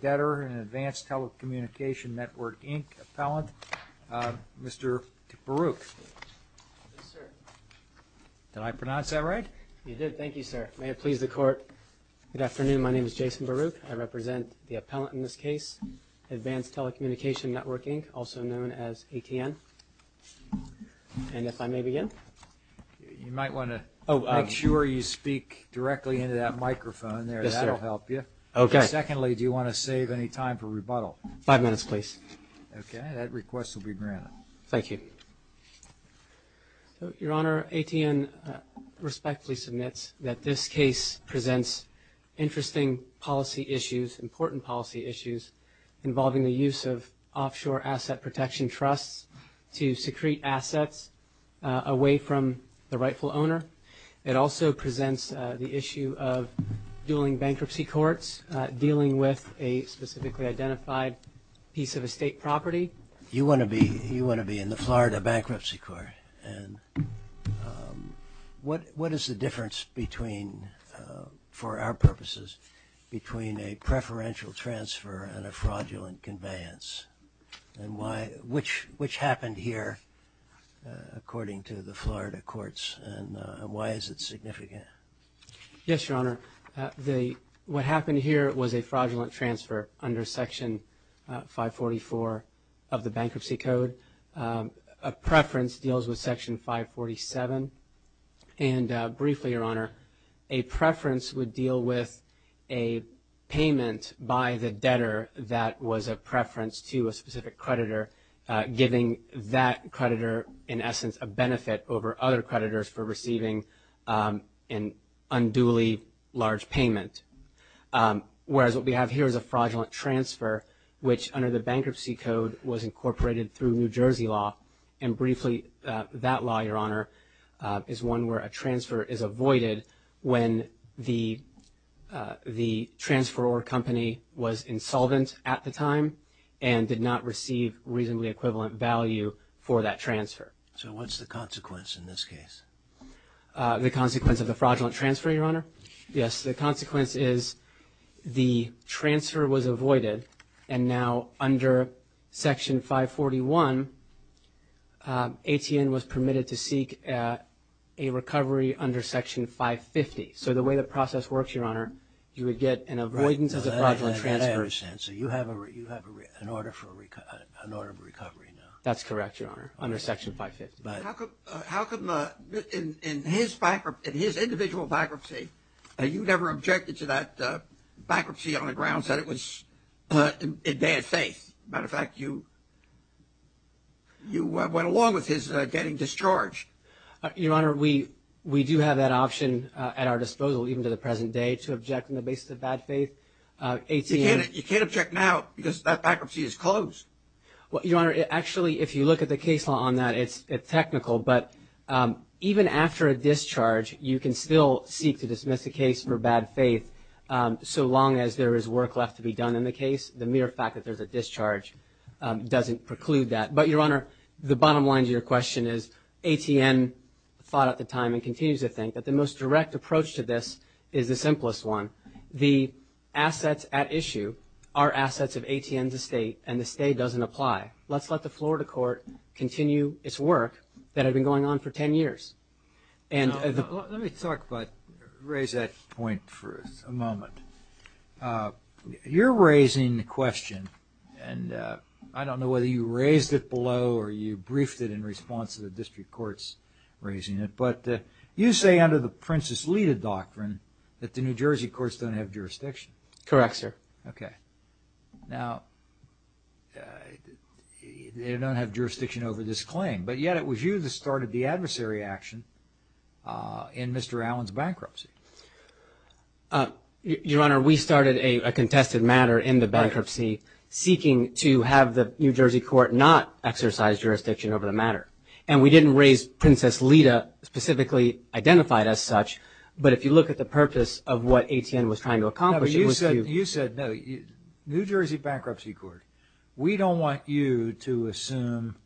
Debtor and Advanced Telecommunication Network, Inc. Appellant. Mr. Baruch. Yes, sir. Did I pronounce that right? You did. Thank you, sir. May it please the Court. Good afternoon. My name is Jason Baruch. I represent the appellant in this case, Advanced Telecommunication Network, Inc., also known as ATN. And if I may begin. You might want to make sure you speak directly into that microphone there. Yes, sir. That will help you. Secondly, do you want to save any time for rebuttal? Five minutes, please. Okay. That request will be granted. Thank you. Your Honor, ATN respectfully submits that this case presents interesting policy issues, important policy issues involving the use of offshore asset protection trusts to secrete assets away from the rightful owner. It also presents the issue of dueling bankruptcy courts dealing with a specifically identified piece of estate property. You want to be in the Florida Bankruptcy Court. And what is the difference between, for our purposes, between a preferential transfer and a fraudulent conveyance? And why? Which happened here according to the Florida courts? And why is it significant? Yes, Your Honor. What happened here was a fraudulent transfer under Section 544 of the Bankruptcy Code. A preference deals with Section 547. And briefly, Your Honor, a preference would deal with a payment by the debtor that was a preference to a specific creditor, giving that creditor, in essence, a benefit over other creditors for receiving an unduly large payment. Whereas what we have here is a fraudulent transfer, which under the Bankruptcy Code was incorporated through New Jersey law. And briefly, that law, Your Honor, is one where a transfer is avoided when the transferor company was insolvent at the time and did not receive reasonably equivalent value for that transfer. So what's the consequence in this case? The consequence of the fraudulent transfer, Your Honor? Yes. The consequence is the transfer was avoided, and now under Section 541, ATN was permitted to seek a recovery under Section 550. So the way the process works, Your Honor, you would get an avoidance as a fraudulent transfer. So you have an order of recovery now. That's correct, Your Honor, under Section 550. How come in his individual bankruptcy, you never objected to that bankruptcy on the grounds that it was in bad faith? Matter of fact, you went along with his getting discharged. Your Honor, we do have that option at our disposal even to the present day to object on the basis of bad faith. You can't object now because that bankruptcy is closed. Well, Your Honor, actually, if you look at the case law on that, it's technical. But even after a discharge, you can still seek to dismiss the case for bad faith. So long as there is work left to be done in the case, the mere fact that there's a discharge doesn't preclude that. But, Your Honor, the bottom line to your question is ATN thought at the time and continues to think that the most direct approach to this is the simplest one. The assets at issue are assets of ATN's estate, and the state doesn't apply. Let's let the Florida court continue its work that had been going on for 10 years. Let me talk about, raise that point for a moment. You're raising the question, and I don't know whether you raised it below or you briefed it in response to the district court's raising it, but you say under the Princess Lita doctrine that the New Jersey courts don't have jurisdiction. Correct, sir. Okay. Now, they don't have jurisdiction over this claim, but yet it was you that started the adversary action in Mr. Allen's bankruptcy. Your Honor, we started a contested matter in the bankruptcy seeking to have the New Jersey court not exercise jurisdiction over the matter. And we didn't raise Princess Lita specifically identified as such, but if you look at the purpose of what ATN was trying to accomplish, it was to You said New Jersey Bankruptcy Court. We don't want you to assume.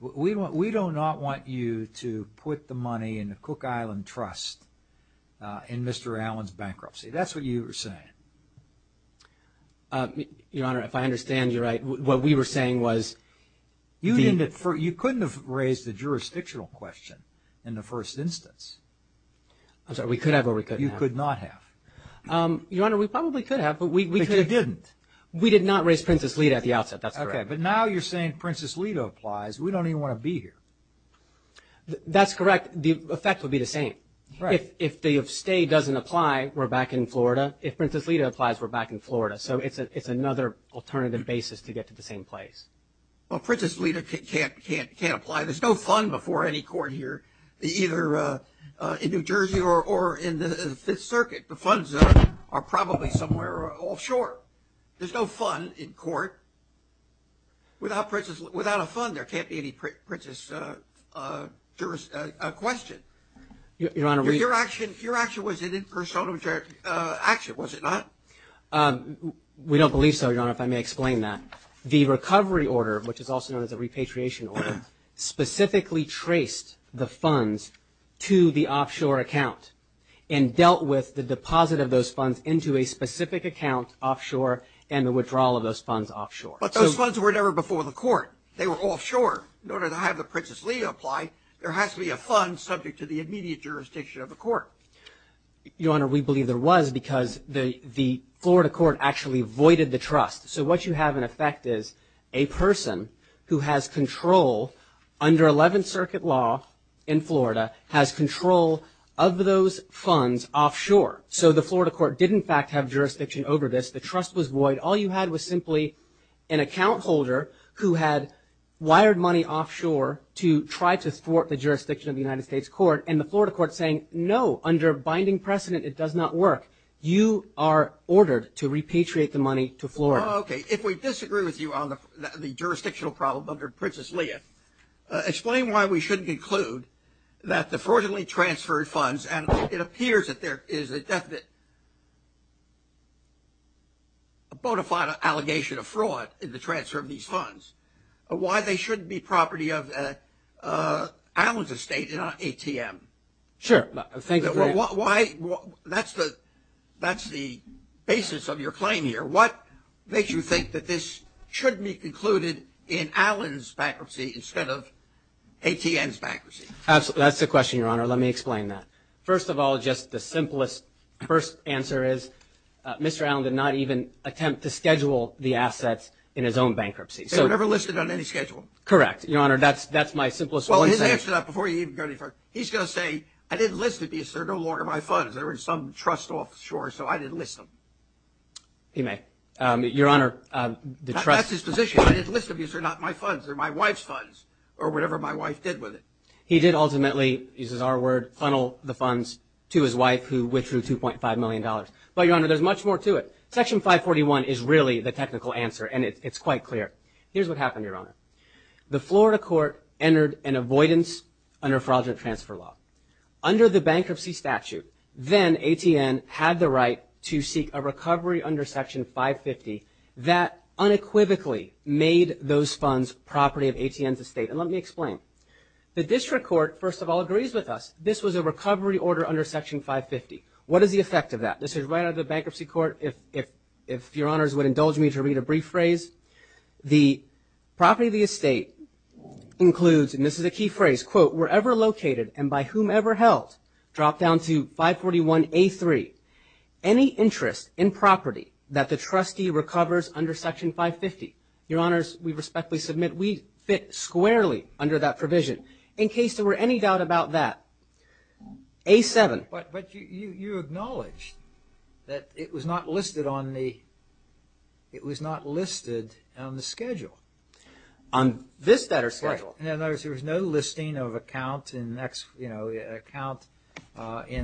We do not want you to put the money in the Cook Island Trust in Mr. Allen's bankruptcy. That's what you were saying. Your Honor, if I understand you right, what we were saying was You couldn't have raised the jurisdictional question in the first instance. I'm sorry, we could have or we couldn't have. You could not have. Your Honor, we probably could have, but we But you didn't. We did not raise Princess Lita at the outset. That's correct. Okay. But now you're saying Princess Lita applies. We don't even want to be here. That's correct. The effect would be the same. Right. If the stay doesn't apply, we're back in Florida. If Princess Lita applies, we're back in Florida. So it's another alternative basis to get to the same place. Well, Princess Lita can't apply. There's no fund before any court here, either in New Jersey or in the Fifth Circuit. The funds are probably somewhere offshore. There's no fund in court. Without a fund, there can't be any Princess question. Your Honor, we Your action was an impersonal action, was it not? We don't believe so, Your Honor, if I may explain that. The recovery order, which is also known as a repatriation order, specifically traced the funds to the offshore account and dealt with the deposit of those funds into a specific account offshore and the withdrawal of those funds offshore. But those funds were never before the court. They were offshore. In order to have the Princess Lita apply, there has to be a fund subject to the immediate jurisdiction of the court. Your Honor, we believe there was because the Florida court actually voided the trust. So what you have in effect is a person who has control under Eleventh Circuit law in Florida, has control of those funds offshore. So the Florida court did, in fact, have jurisdiction over this. The trust was void. All you had was simply an account holder who had wired money offshore to try to thwart the jurisdiction of the United States court, and the Florida court saying, no, under binding precedent it does not work. You are ordered to repatriate the money to Florida. Okay. If we disagree with you on the jurisdictional problem under Princess Lita, explain why we shouldn't conclude that the fraudulently transferred funds, and it appears that there is a bona fide allegation of fraud in the transfer of these funds, why they shouldn't be property of Allen's estate and not ATM. Sure. Thanks for that. That's the basis of your claim here. What makes you think that this should be concluded in Allen's bankruptcy instead of ATM's bankruptcy? That's the question, Your Honor. Let me explain that. First of all, just the simplest first answer is Mr. Allen did not even attempt to schedule the assets in his own bankruptcy. They were never listed on any schedule? Correct, Your Honor. That's my simplest one. Well, his answer, before you even go any further, he's going to say, I didn't list it because they're no longer my funds. They were in some trust offshore, so I didn't list them. He may. Your Honor, the trust… That's his position. I didn't list them because they're not my funds. They're my wife's funds or whatever my wife did with it. He did ultimately, uses our word, funnel the funds to his wife who withdrew $2.5 million. But, Your Honor, there's much more to it. Section 541 is really the technical answer, and it's quite clear. Here's what happened, Your Honor. The Florida court entered an avoidance under fraudulent transfer law. Under the bankruptcy statute, then ATN had the right to seek a recovery under Section 550 that unequivocally made those funds property of ATN's estate. And let me explain. The district court, first of all, agrees with us. This was a recovery order under Section 550. What is the effect of that? This is right out of the bankruptcy court, if Your Honors would indulge me to read a brief phrase. The property of the estate includes, and this is a key phrase, quote, wherever located and by whomever held, drop down to 541A3, any interest in property that the trustee recovers under Section 550. Your Honors, we respectfully submit we fit squarely under that provision. In case there were any doubt about that, A7. But you acknowledged that it was not listed on the schedule. On this debtor's schedule. There was no listing of account in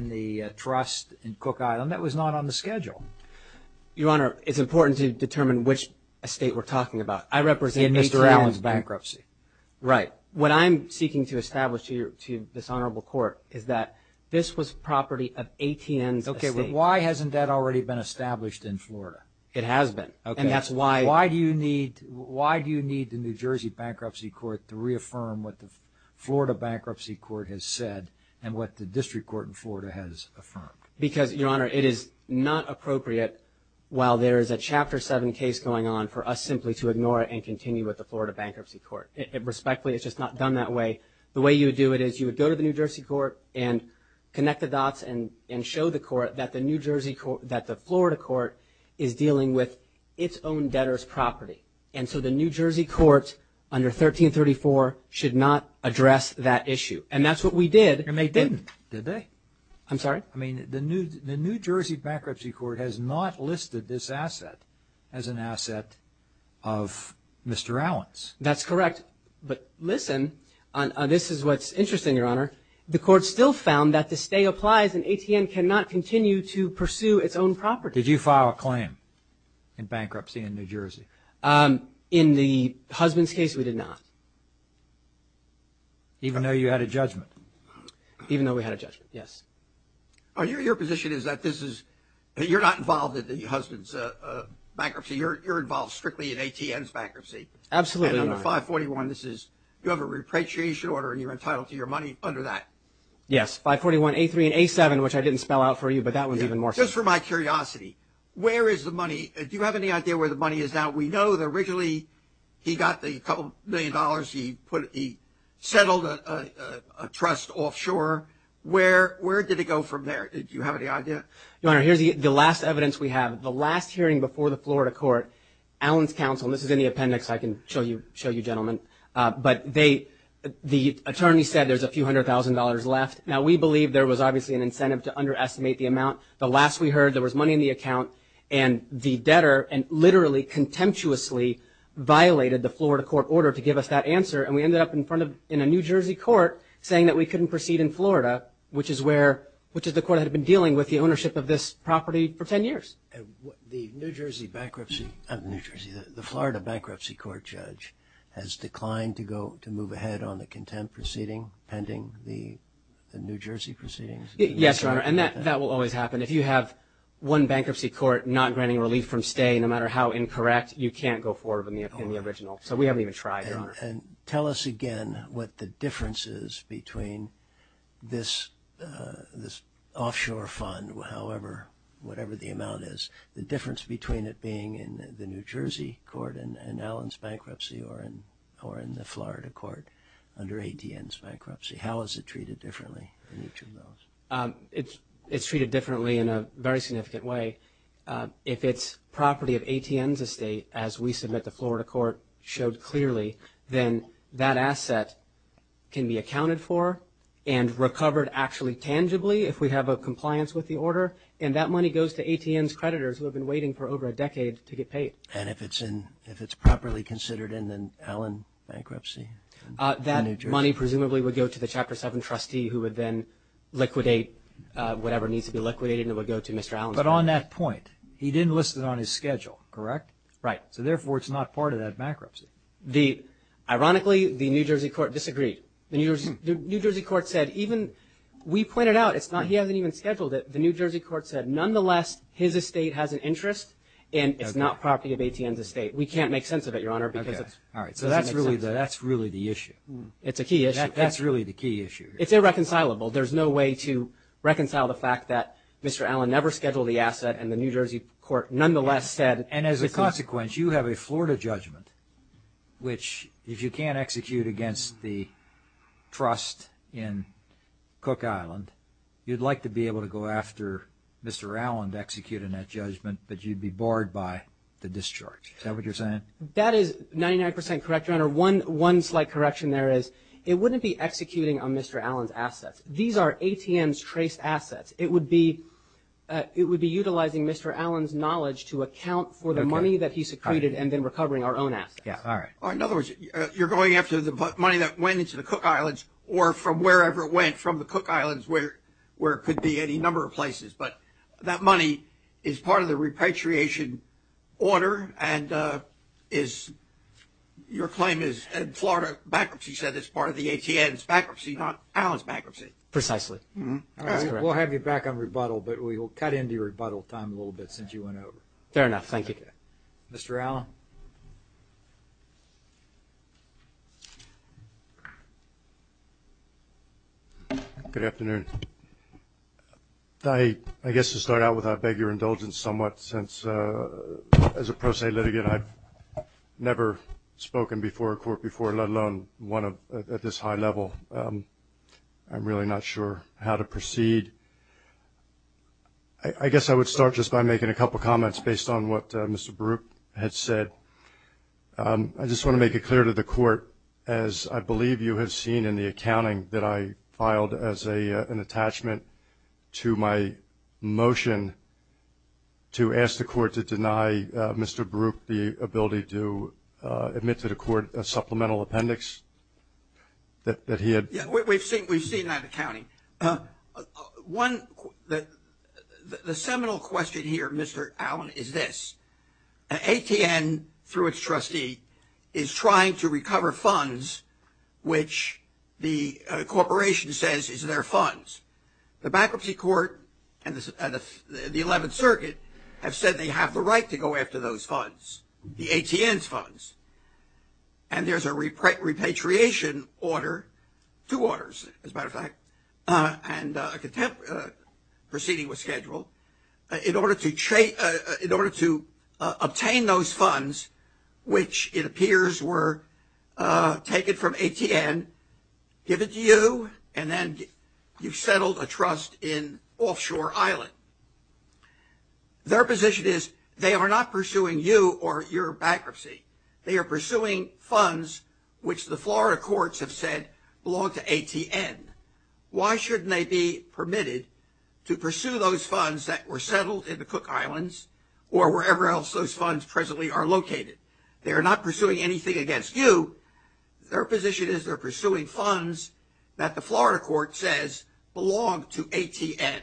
the trust in Cook Island. That was not on the schedule. Your Honor, it's important to determine which estate we're talking about. I represent Mr. Allen's bankruptcy. Right. What I'm seeking to establish to this Honorable Court is that this was property of ATN's estate. Okay, but why hasn't that already been established in Florida? It has been. Okay. Why do you need the New Jersey Bankruptcy Court to reaffirm what the Florida Bankruptcy Court has said and what the District Court in Florida has affirmed? Because, Your Honor, it is not appropriate, while there is a Chapter 7 case going on, for us simply to ignore it and continue with the Florida Bankruptcy Court. Respectfully, it's just not done that way. The way you would do it is you would go to the New Jersey Court and connect the dots and show the court that the Florida Court is dealing with its own debtor's property. And so the New Jersey Court, under 1334, should not address that issue. And that's what we did. And they didn't, did they? I'm sorry? I mean, the New Jersey Bankruptcy Court has not listed this asset as an asset of Mr. Allen's. But listen, this is what's interesting, Your Honor. The court still found that the stay applies and ATN cannot continue to pursue its own property. Did you file a claim in bankruptcy in New Jersey? In the husband's case, we did not. Even though you had a judgment? Even though we had a judgment, yes. Your position is that this is, you're not involved in the husband's bankruptcy. You're involved strictly in ATN's bankruptcy. Absolutely not. You have a repatriation order and you're entitled to your money under that. Yes, 541A3 and A7, which I didn't spell out for you, but that one's even more. Just for my curiosity, where is the money? Do you have any idea where the money is now? We know that originally he got the couple million dollars. He settled a trust offshore. Where did it go from there? Do you have any idea? Your Honor, here's the last evidence we have. The last hearing before the Florida Court, Allen's counsel, and this is in the appendix. I can show you gentlemen. But the attorney said there's a few hundred thousand dollars left. Now, we believe there was obviously an incentive to underestimate the amount. The last we heard, there was money in the account, and the debtor literally contemptuously violated the Florida Court order to give us that answer, and we ended up in a New Jersey court saying that we couldn't proceed in Florida, which is the court that had been dealing with the ownership of this property for ten years. The New Jersey bankruptcy of New Jersey, the Florida bankruptcy court judge, has declined to move ahead on the contempt proceeding pending the New Jersey proceedings? Yes, Your Honor, and that will always happen. If you have one bankruptcy court not granting relief from stay, no matter how incorrect, you can't go forward with the original. So we haven't even tried, Your Honor. And tell us again what the difference is between this offshore fund, however, whatever the amount is, the difference between it being in the New Jersey court and Allen's bankruptcy or in the Florida court under ATN's bankruptcy. How is it treated differently in each of those? It's treated differently in a very significant way. If it's property of ATN's estate, as we submit the Florida court showed clearly, then that asset can be accounted for and recovered actually tangibly if we have a compliance with the order, and that money goes to ATN's creditors who have been waiting for over a decade to get paid. And if it's properly considered in an Allen bankruptcy in New Jersey? That money presumably would go to the Chapter 7 trustee who would then liquidate whatever needs to be liquidated, and it would go to Mr. Allen's creditors. But on that point, he didn't list it on his schedule, correct? Right. So, therefore, it's not part of that bankruptcy. Ironically, the New Jersey court disagreed. The New Jersey court said even we pointed out it's not he hasn't even scheduled it. The New Jersey court said, nonetheless, his estate has an interest, and it's not property of ATN's estate. We can't make sense of it, Your Honor, because it doesn't make sense. All right. So that's really the issue. It's a key issue. That's really the key issue. It's irreconcilable. There's no way to reconcile the fact that Mr. Allen never scheduled the asset, and the New Jersey court, nonetheless, said it's his. And as a consequence, you have a Florida judgment, which, if you can't execute against the trust in Cook Island, you'd like to be able to go after Mr. Allen to execute in that judgment, but you'd be barred by the discharge. Is that what you're saying? That is 99 percent correct, Your Honor. Your Honor, one slight correction there is it wouldn't be executing on Mr. Allen's assets. These are ATN's traced assets. It would be utilizing Mr. Allen's knowledge to account for the money that he secreted and then recovering our own assets. All right. In other words, you're going after the money that went into the Cook Islands or from wherever it went from the Cook Islands where it could be any number of places, but that money is part of the repatriation order and is your claim is in Florida. Bankruptcy said it's part of the ATN's bankruptcy, not Allen's bankruptcy. Precisely. All right. We'll have you back on rebuttal, but we will cut into your rebuttal time a little bit since you went over. Fair enough. Thank you. Mr. Allen. Good afternoon. I guess to start out with, I beg your indulgence somewhat since, as a pro se litigant, I've never spoken before a court before, let alone one at this high level. I'm really not sure how to proceed. I guess I would start just by making a couple comments based on what Mr. Baruch had said. I just want to make it clear to the court, as I believe you have seen in the accounting that I filed as an attachment to my motion, to ask the court to deny Mr. Baruch the ability to admit to the court a supplemental appendix that he had. Yeah, we've seen that accounting. One, the seminal question here, Mr. Allen, is this. ATN, through its trustee, is trying to recover funds which the corporation says is their funds. The bankruptcy court and the 11th Circuit have said they have the right to go after those funds, the ATN's funds. And there's a repatriation order, two orders, as a matter of fact, proceeding with schedule. In order to obtain those funds, which it appears were taken from ATN, given to you and then you've settled a trust in Offshore Island. Their position is they are not pursuing you or your bankruptcy. They are pursuing funds which the Florida courts have said belong to ATN. Why shouldn't they be permitted to pursue those funds that were settled in the Cook Islands or wherever else those funds presently are located? They are not pursuing anything against you. Their position is they're pursuing funds that the Florida court says belong to ATN.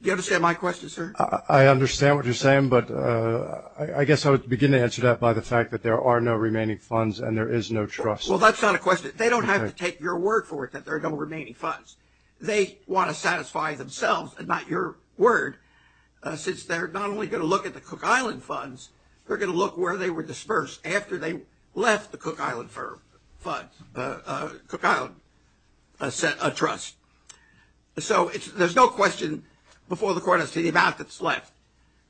Do you understand my question, sir? I understand what you're saying, but I guess I would begin to answer that by the fact that there are no remaining funds and there is no trust. Well, that's not a question. They don't have to take your word for it that there are no remaining funds. They want to satisfy themselves and not your word, since they're not only going to look at the Cook Island funds, they're going to look where they were dispersed after they left the Cook Island fund, Cook Island trust. So there's no question before the court as to the amount that's left.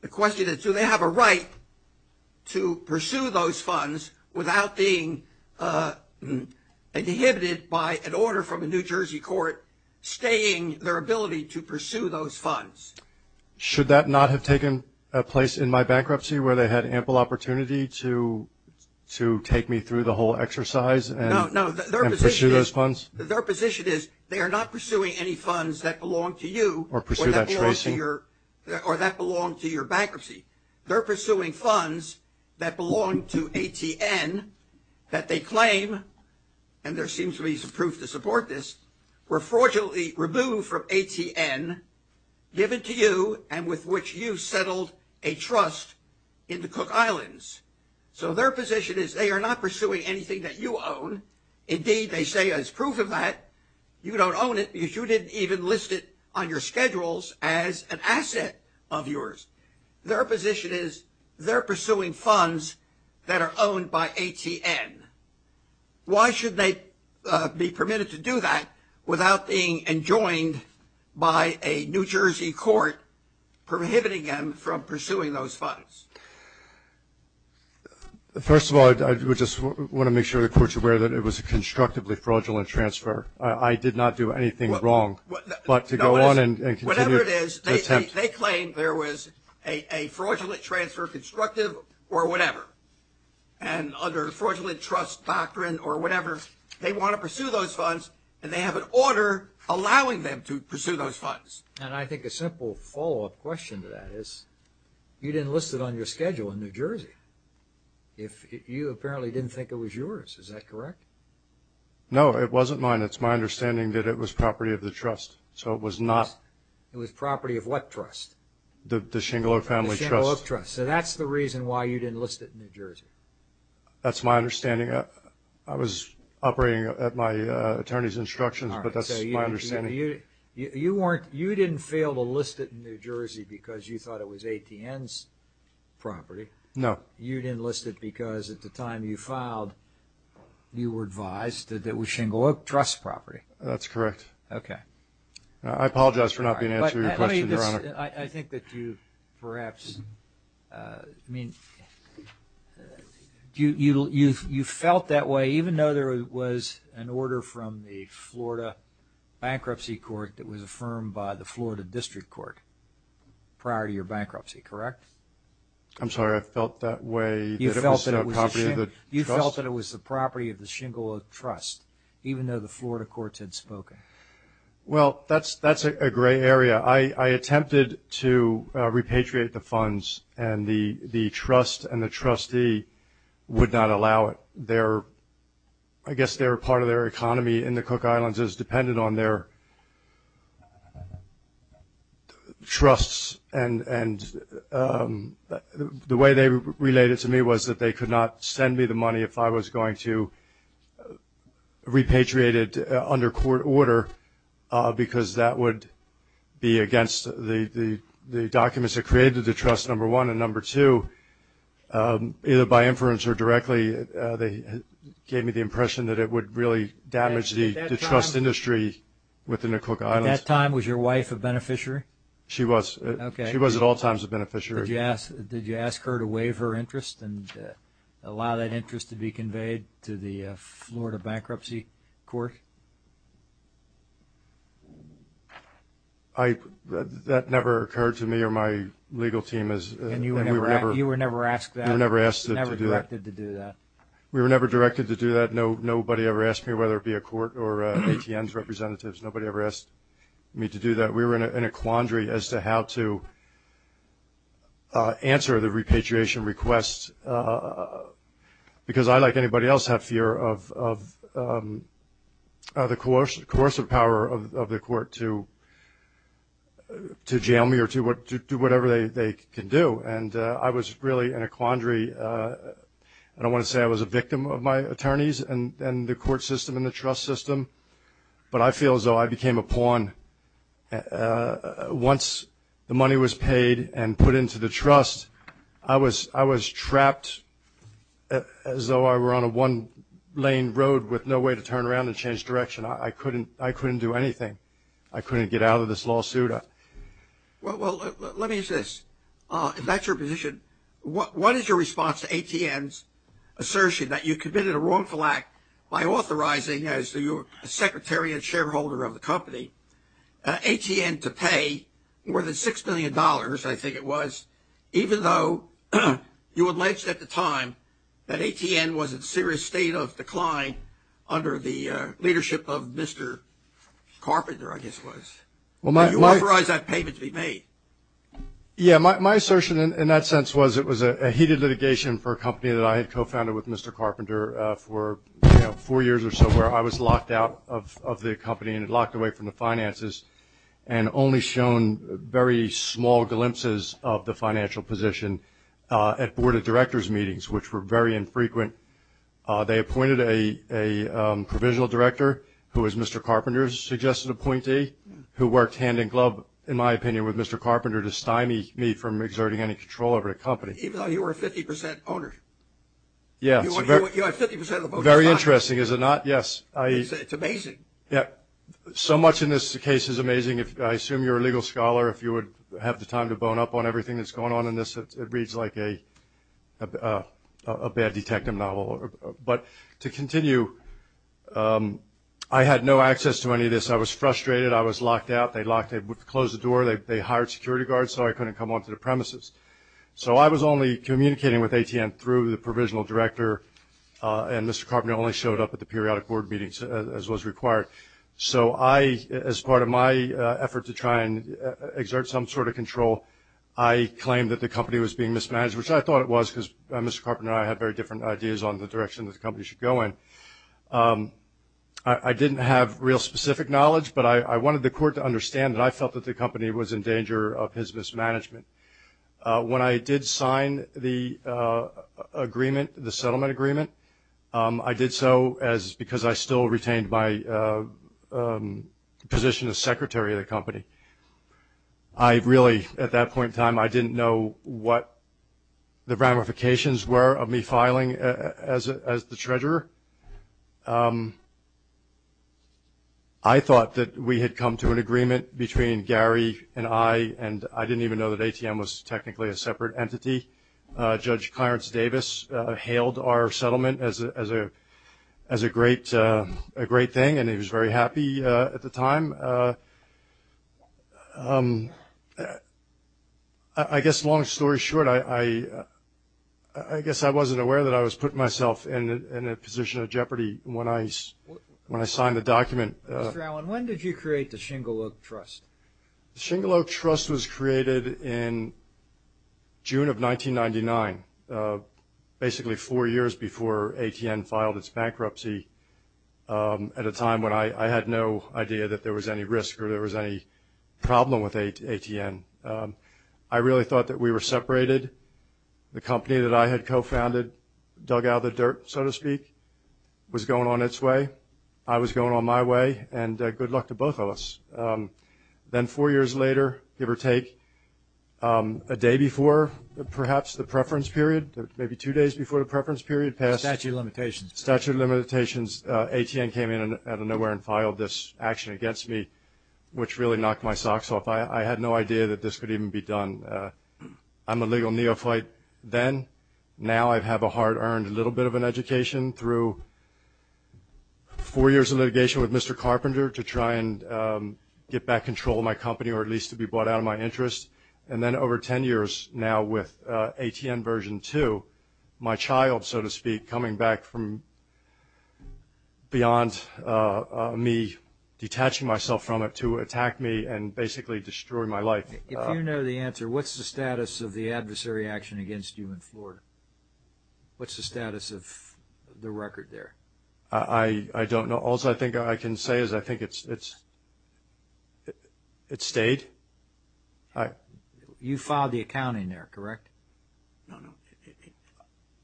The question is do they have a right to pursue those funds without being inhibited by an order from a New Jersey court staying their ability to pursue those funds? Should that not have taken place in my bankruptcy where they had ample opportunity to take me through the whole exercise and pursue those funds? Their position is they are not pursuing any funds that belong to you or that belong to your bankruptcy. They're pursuing funds that belong to ATN that they claim, and there seems to be some proof to support this, were fraudulently removed from ATN, given to you, and with which you settled a trust in the Cook Islands. So their position is they are not pursuing anything that you own. Indeed, they say as proof of that, you don't own it because you didn't even list it on your schedules as an asset of yours. Their position is they're pursuing funds that are owned by ATN. Why should they be permitted to do that without being enjoined by a New Jersey court prohibiting them from pursuing those funds? First of all, I would just want to make sure the court's aware that it was a constructively fraudulent transfer. I did not do anything wrong, but to go on and continue to attempt. Whatever it is, they claim there was a fraudulent transfer, constructive or whatever, and under fraudulent trust doctrine or whatever, they want to pursue those funds, and they have an order allowing them to pursue those funds. And I think a simple follow-up question to that is you didn't list it on your schedule in New Jersey. You apparently didn't think it was yours. Is that correct? No, it wasn't mine. It's my understanding that it was property of the trust, so it was not. It was property of what trust? The Shingaloe Family Trust. The Shingaloe Trust. So that's the reason why you didn't list it in New Jersey. That's my understanding. I was operating at my attorney's instructions, but that's my understanding. You didn't fail to list it in New Jersey because you thought it was ATN's property. No. You didn't list it because at the time you filed, you were advised that it was Shingaloe Trust property. That's correct. Okay. I apologize for not being able to answer your question, Your Honor. I think that you perhaps, I mean, you felt that way, even though there was an order from the Florida Bankruptcy Court that was affirmed by the Florida District Court prior to your bankruptcy, correct? I'm sorry. I felt that way that it was the property of the trust. You felt that it was the property of the Shingaloe Trust, even though the Florida courts had spoken. Well, that's a gray area. I attempted to repatriate the funds, and the trust and the trustee would not allow it. I guess they were part of their economy in the Cook Islands. It was dependent on their trusts, and the way they related to me was that they could not send me the money if I was going to repatriate it under court order because that would be against the documents that created the trust, number one. And number two, either by inference or directly, they gave me the impression that it would really damage the trust industry within the Cook Islands. At that time, was your wife a beneficiary? She was. Okay. She was at all times a beneficiary. Did you ask her to waive her interest and allow that interest to be conveyed to the Florida bankruptcy court? That never occurred to me or my legal team. And you were never asked that? We were never asked to do that. You were never directed to do that? We were never directed to do that. Nobody ever asked me whether it be a court or ATN's representatives. Nobody ever asked me to do that. We were in a quandary as to how to answer the repatriation request because I, like anybody else, have fear of the coercive power of the court to jail me or to do whatever they can do. And I was really in a quandary. I don't want to say I was a victim of my attorneys and the court system and the trust system, but I feel as though I became a pawn. Once the money was paid and put into the trust, I was trapped as though I were on a one-lane road with no way to turn around and change direction. I couldn't do anything. I couldn't get out of this lawsuit. Well, let me ask this. If that's your position, what is your response to ATN's assertion that you committed a wrongful act by authorizing, as your secretary and shareholder of the company, ATN to pay more than $6 million, I think it was, even though you alleged at the time that ATN was in a serious state of decline under the leadership of Mr. Carpenter, I guess it was, and you authorized that payment to be made? Yeah, my assertion in that sense was it was a heated litigation for a company that I had co-founded with Mr. Carpenter for four years or so where I was locked out of the company and locked away from the finances and only shown very small glimpses of the financial position at board of directors meetings, which were very infrequent. They appointed a provisional director who was Mr. Carpenter's suggested appointee, who worked hand-in-glove, in my opinion, with Mr. Carpenter to stymie me from exerting any control over the company. Even though you were a 50% owner? Yes. You are 50% of the board's stock? Very interesting, is it not? Yes. It's amazing. Yeah. So much in this case is amazing. I assume you're a legal scholar. If you would have the time to bone up on everything that's going on in this, it reads like a bad detective novel. But to continue, I had no access to any of this. I was frustrated. I was locked out. They closed the door. They hired security guards so I couldn't come onto the premises. So I was only communicating with AT&T through the provisional director, and Mr. Carpenter only showed up at the periodic board meetings as was required. So as part of my effort to try and exert some sort of control, I claimed that the company was being mismanaged, which I thought it was because Mr. Carpenter and I had very different ideas on the direction that the company should go in. I didn't have real specific knowledge, but I wanted the court to understand that I felt that the company was in danger of his mismanagement. When I did sign the agreement, the settlement agreement, I did so because I still retained my position as secretary of the company. I really, at that point in time, I didn't know what the ramifications were of me filing as the treasurer. I thought that we had come to an agreement between Gary and I, and I didn't even know that ATM was technically a separate entity. Judge Clarence Davis hailed our settlement as a great thing, and he was very happy at the time. I guess, long story short, I guess I wasn't aware that I was putting myself in a position of jeopardy when I signed the document. Mr. Allen, when did you create the Shingle Oak Trust? The Shingle Oak Trust was created in June of 1999, basically four years before ATN filed its bankruptcy at a time when I had no idea that there was any risk or there was any problem with ATN. I really thought that we were separated. The company that I had co-founded, dug out of the dirt, so to speak, was going on its way. I was going on my way, and good luck to both of us. Then four years later, give or take, a day before, perhaps the preference period, maybe two days before the preference period passed. Statute of limitations. Statute of limitations. ATN came in out of nowhere and filed this action against me, which really knocked my socks off. I had no idea that this could even be done. I'm a legal neophyte then. Now I have a hard-earned little bit of an education through four years of litigation with Mr. Carpenter to try and get back control of my company or at least to be brought out of my interest. Then over 10 years now with ATN version 2, my child, so to speak, coming back from beyond me detaching myself from it to attack me and basically destroy my life. If you know the answer, what's the status of the adversary action against you in Florida? What's the status of the record there? I don't know. All I think I can say is I think it's stayed. You filed the accounting there, correct? No, no.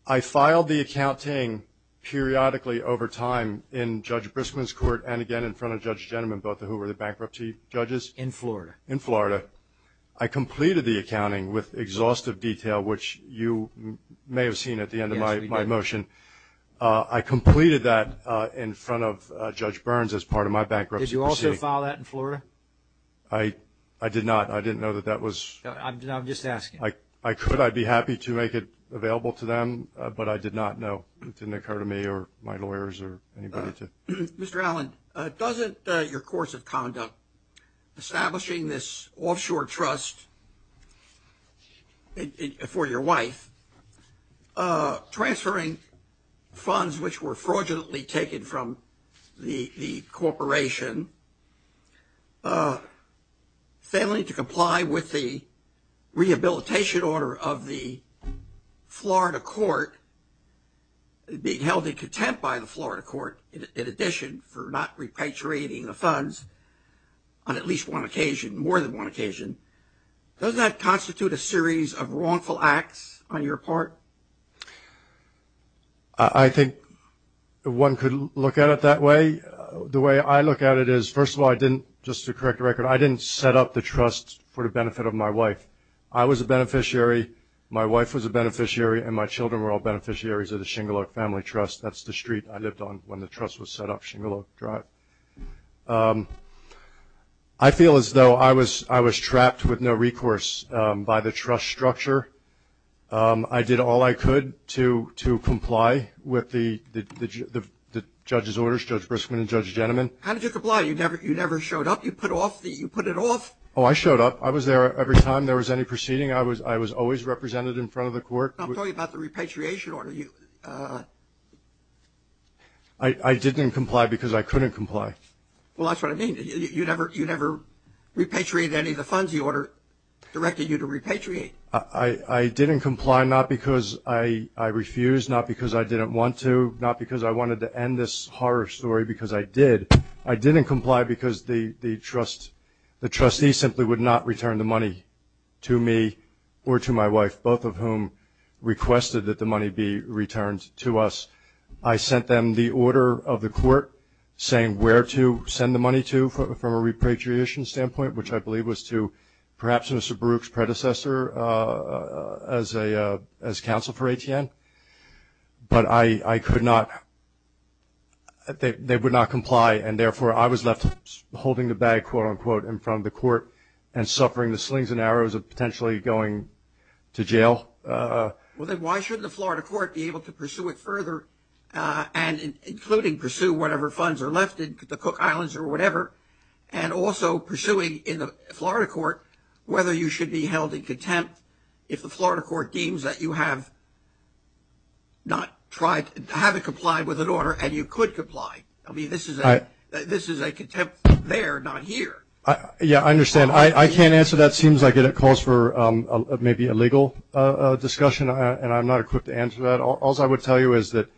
I filed the accounting periodically over time in Judge Briskman's court and again in front of Judge Gentleman, both of whom were the bankruptcy judges. In Florida. In Florida. I completed the accounting with exhaustive detail, which you may have seen at the end of my motion. I completed that in front of Judge Burns as part of my bankruptcy proceeding. Did you also file that in Florida? I did not. I didn't know that that was. I'm just asking. I could. I'd be happy to make it available to them, but I did not know. It didn't occur to me or my lawyers or anybody to. Mr. Allen, doesn't your course of conduct establishing this offshore trust for your wife, transferring funds which were fraudulently taken from the corporation, failing to comply with the rehabilitation order of the Florida court, being held in contempt by the Florida court, in addition for not repatriating the funds on at least one occasion, more than one occasion, does that constitute a series of wrongful acts on your part? I think one could look at it that way. The way I look at it is, first of all, I didn't, just to correct the record, I didn't set up the trust for the benefit of my wife. I was a beneficiary, my wife was a beneficiary, and my children were all beneficiaries of the Shingaluck Family Trust. That's the street I lived on when the trust was set up, Shingaluck Drive. I feel as though I was trapped with no recourse by the trust structure. I did all I could to comply with the judge's orders, Judge Briskman and Judge Jentleman. How did you comply? You never showed up? You put it off? Oh, I showed up. I was there every time there was any proceeding. I was always represented in front of the court. I'm talking about the repatriation order. I didn't comply because I couldn't comply. Well, that's what I mean. You never repatriated any of the funds the order directed you to repatriate. I didn't comply not because I refused, not because I didn't want to, not because I wanted to end this horror story, because I did. I didn't comply because the trustee simply would not return the money to me or to my wife, both of whom requested that the money be returned to us. I sent them the order of the court saying where to send the money to from a repatriation standpoint, which I believe was to perhaps Mr. Baruch's predecessor as counsel for ATN. But I could not – they would not comply, and therefore I was left holding the bag, quote-unquote, in front of the court and suffering the slings and arrows of potentially going to jail. Well, then why shouldn't the Florida court be able to pursue it further, including pursue whatever funds are left in the Cook Islands or whatever, and also pursuing in the Florida court whether you should be held in contempt if the Florida court deems that you have not tried, haven't complied with an order and you could comply? I mean, this is a contempt there, not here. Yeah, I understand. I can't answer that. It seems like it calls for maybe a legal discussion, and I'm not equipped to answer that. All I would tell you is that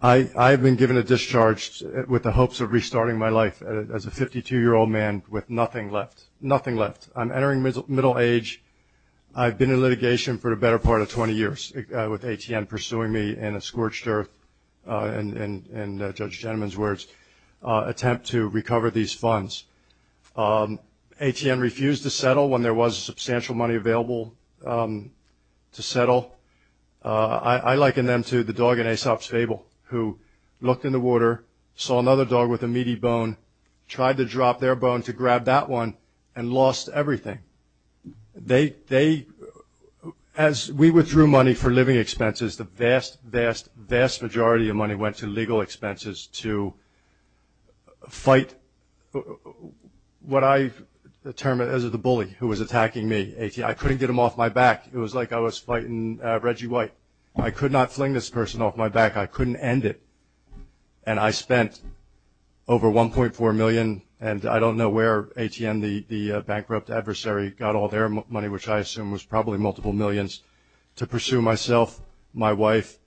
I have been given a discharge with the hopes of restarting my life as a 52-year-old man with nothing left, nothing left. I'm entering middle age. I've been in litigation for the better part of 20 years with ATN pursuing me in a scorched earth, in Judge Jennings's words, attempt to recover these funds. ATN refused to settle when there was substantial money available to settle. I liken them to the dog in Aesop's Fable who looked in the water, saw another dog with a meaty bone, tried to drop their bone to grab that one and lost everything. As we withdrew money for living expenses, the vast, vast, vast majority of money went to legal expenses to fight what I termed as the bully who was attacking me. I couldn't get him off my back. It was like I was fighting Reggie White. I could not fling this person off my back. I couldn't end it. And I spent over $1.4 million, and I don't know where ATN, the bankrupt adversary, got all their money, which I assume was probably multiple millions, to pursue myself, my wife,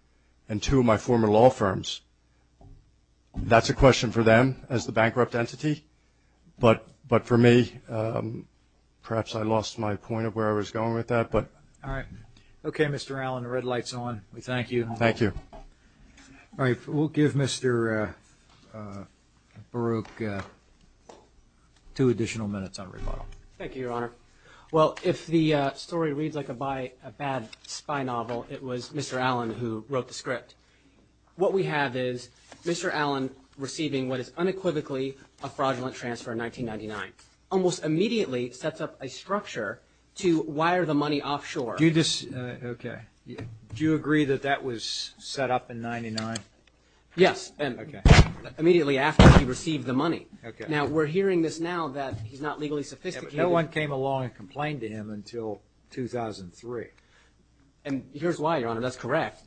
and two of my former law firms. That's a question for them as the bankrupt entity. But for me, perhaps I lost my point of where I was going with that. All right. Okay, Mr. Allen, the red light's on. We thank you. Thank you. All right, we'll give Mr. Baruch two additional minutes on rebuttal. Thank you, Your Honor. Well, if the story reads like a bad spy novel, it was Mr. Allen who wrote the script. What we have is Mr. Allen receiving what is unequivocally a fraudulent transfer in 1999, almost immediately sets up a structure to wire the money offshore. Okay. Do you agree that that was set up in 1999? Yes. Okay. Immediately after he received the money. Okay. Now, we're hearing this now that he's not legally sophisticated. No one came along and complained to him until 2003. And here's why, Your Honor. That's correct.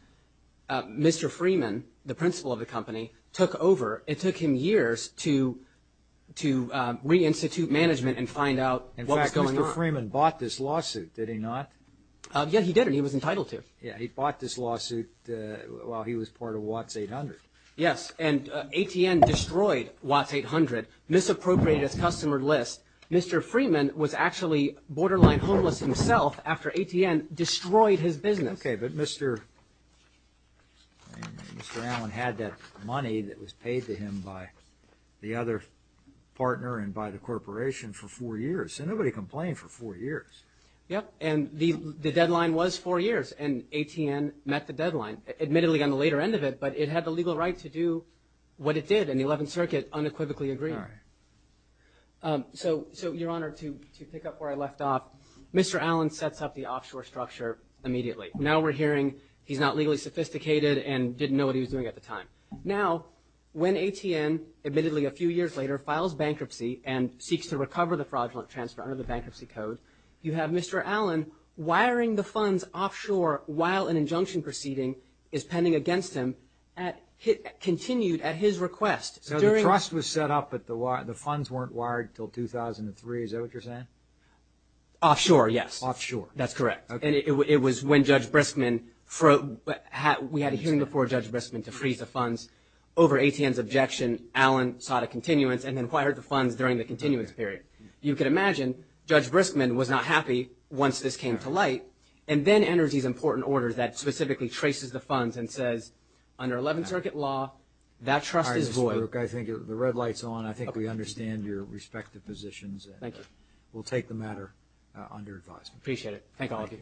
Mr. Freeman, the principal of the company, took over. It took him years to reinstitute management and find out what was going on. In fact, Mr. Freeman bought this lawsuit, did he not? Yeah, he did, and he was entitled to. Yeah, he bought this lawsuit while he was part of Watts 800. Yes, and ATN destroyed Watts 800, misappropriated its customer list. Mr. Freeman was actually borderline homeless himself after ATN destroyed his business. Okay, but Mr. Allen had that money that was paid to him by the other partner and by the corporation for four years. So nobody complained for four years. Yep, and the deadline was four years, and ATN met the deadline, admittedly on the later end of it, but it had the legal right to do what it did, and the 11th Circuit unequivocally agreed. All right. So, Your Honor, to pick up where I left off, Mr. Allen sets up the offshore structure immediately. Now we're hearing he's not legally sophisticated and didn't know what he was doing at the time. Now, when ATN, admittedly a few years later, files bankruptcy and seeks to recover the fraudulent transfer under the Bankruptcy Code, you have Mr. Allen wiring the funds offshore while an injunction proceeding is pending against him, continued at his request. So the trust was set up, but the funds weren't wired until 2003. Is that what you're saying? Offshore, yes. Offshore. That's correct. And it was when Judge Briskman, we had a hearing before Judge Briskman to freeze the funds. Over ATN's objection, Allen sought a continuance and then wired the funds during the continuance period. You can imagine Judge Briskman was not happy once this came to light and then enters these important orders that specifically traces the funds and says, under 11th Circuit law, that trust is void. All right, Mr. Brooke, I think the red light's on. I think we understand your respective positions. Thank you. We'll take the matter under advisement. Appreciate it. Thank all of you.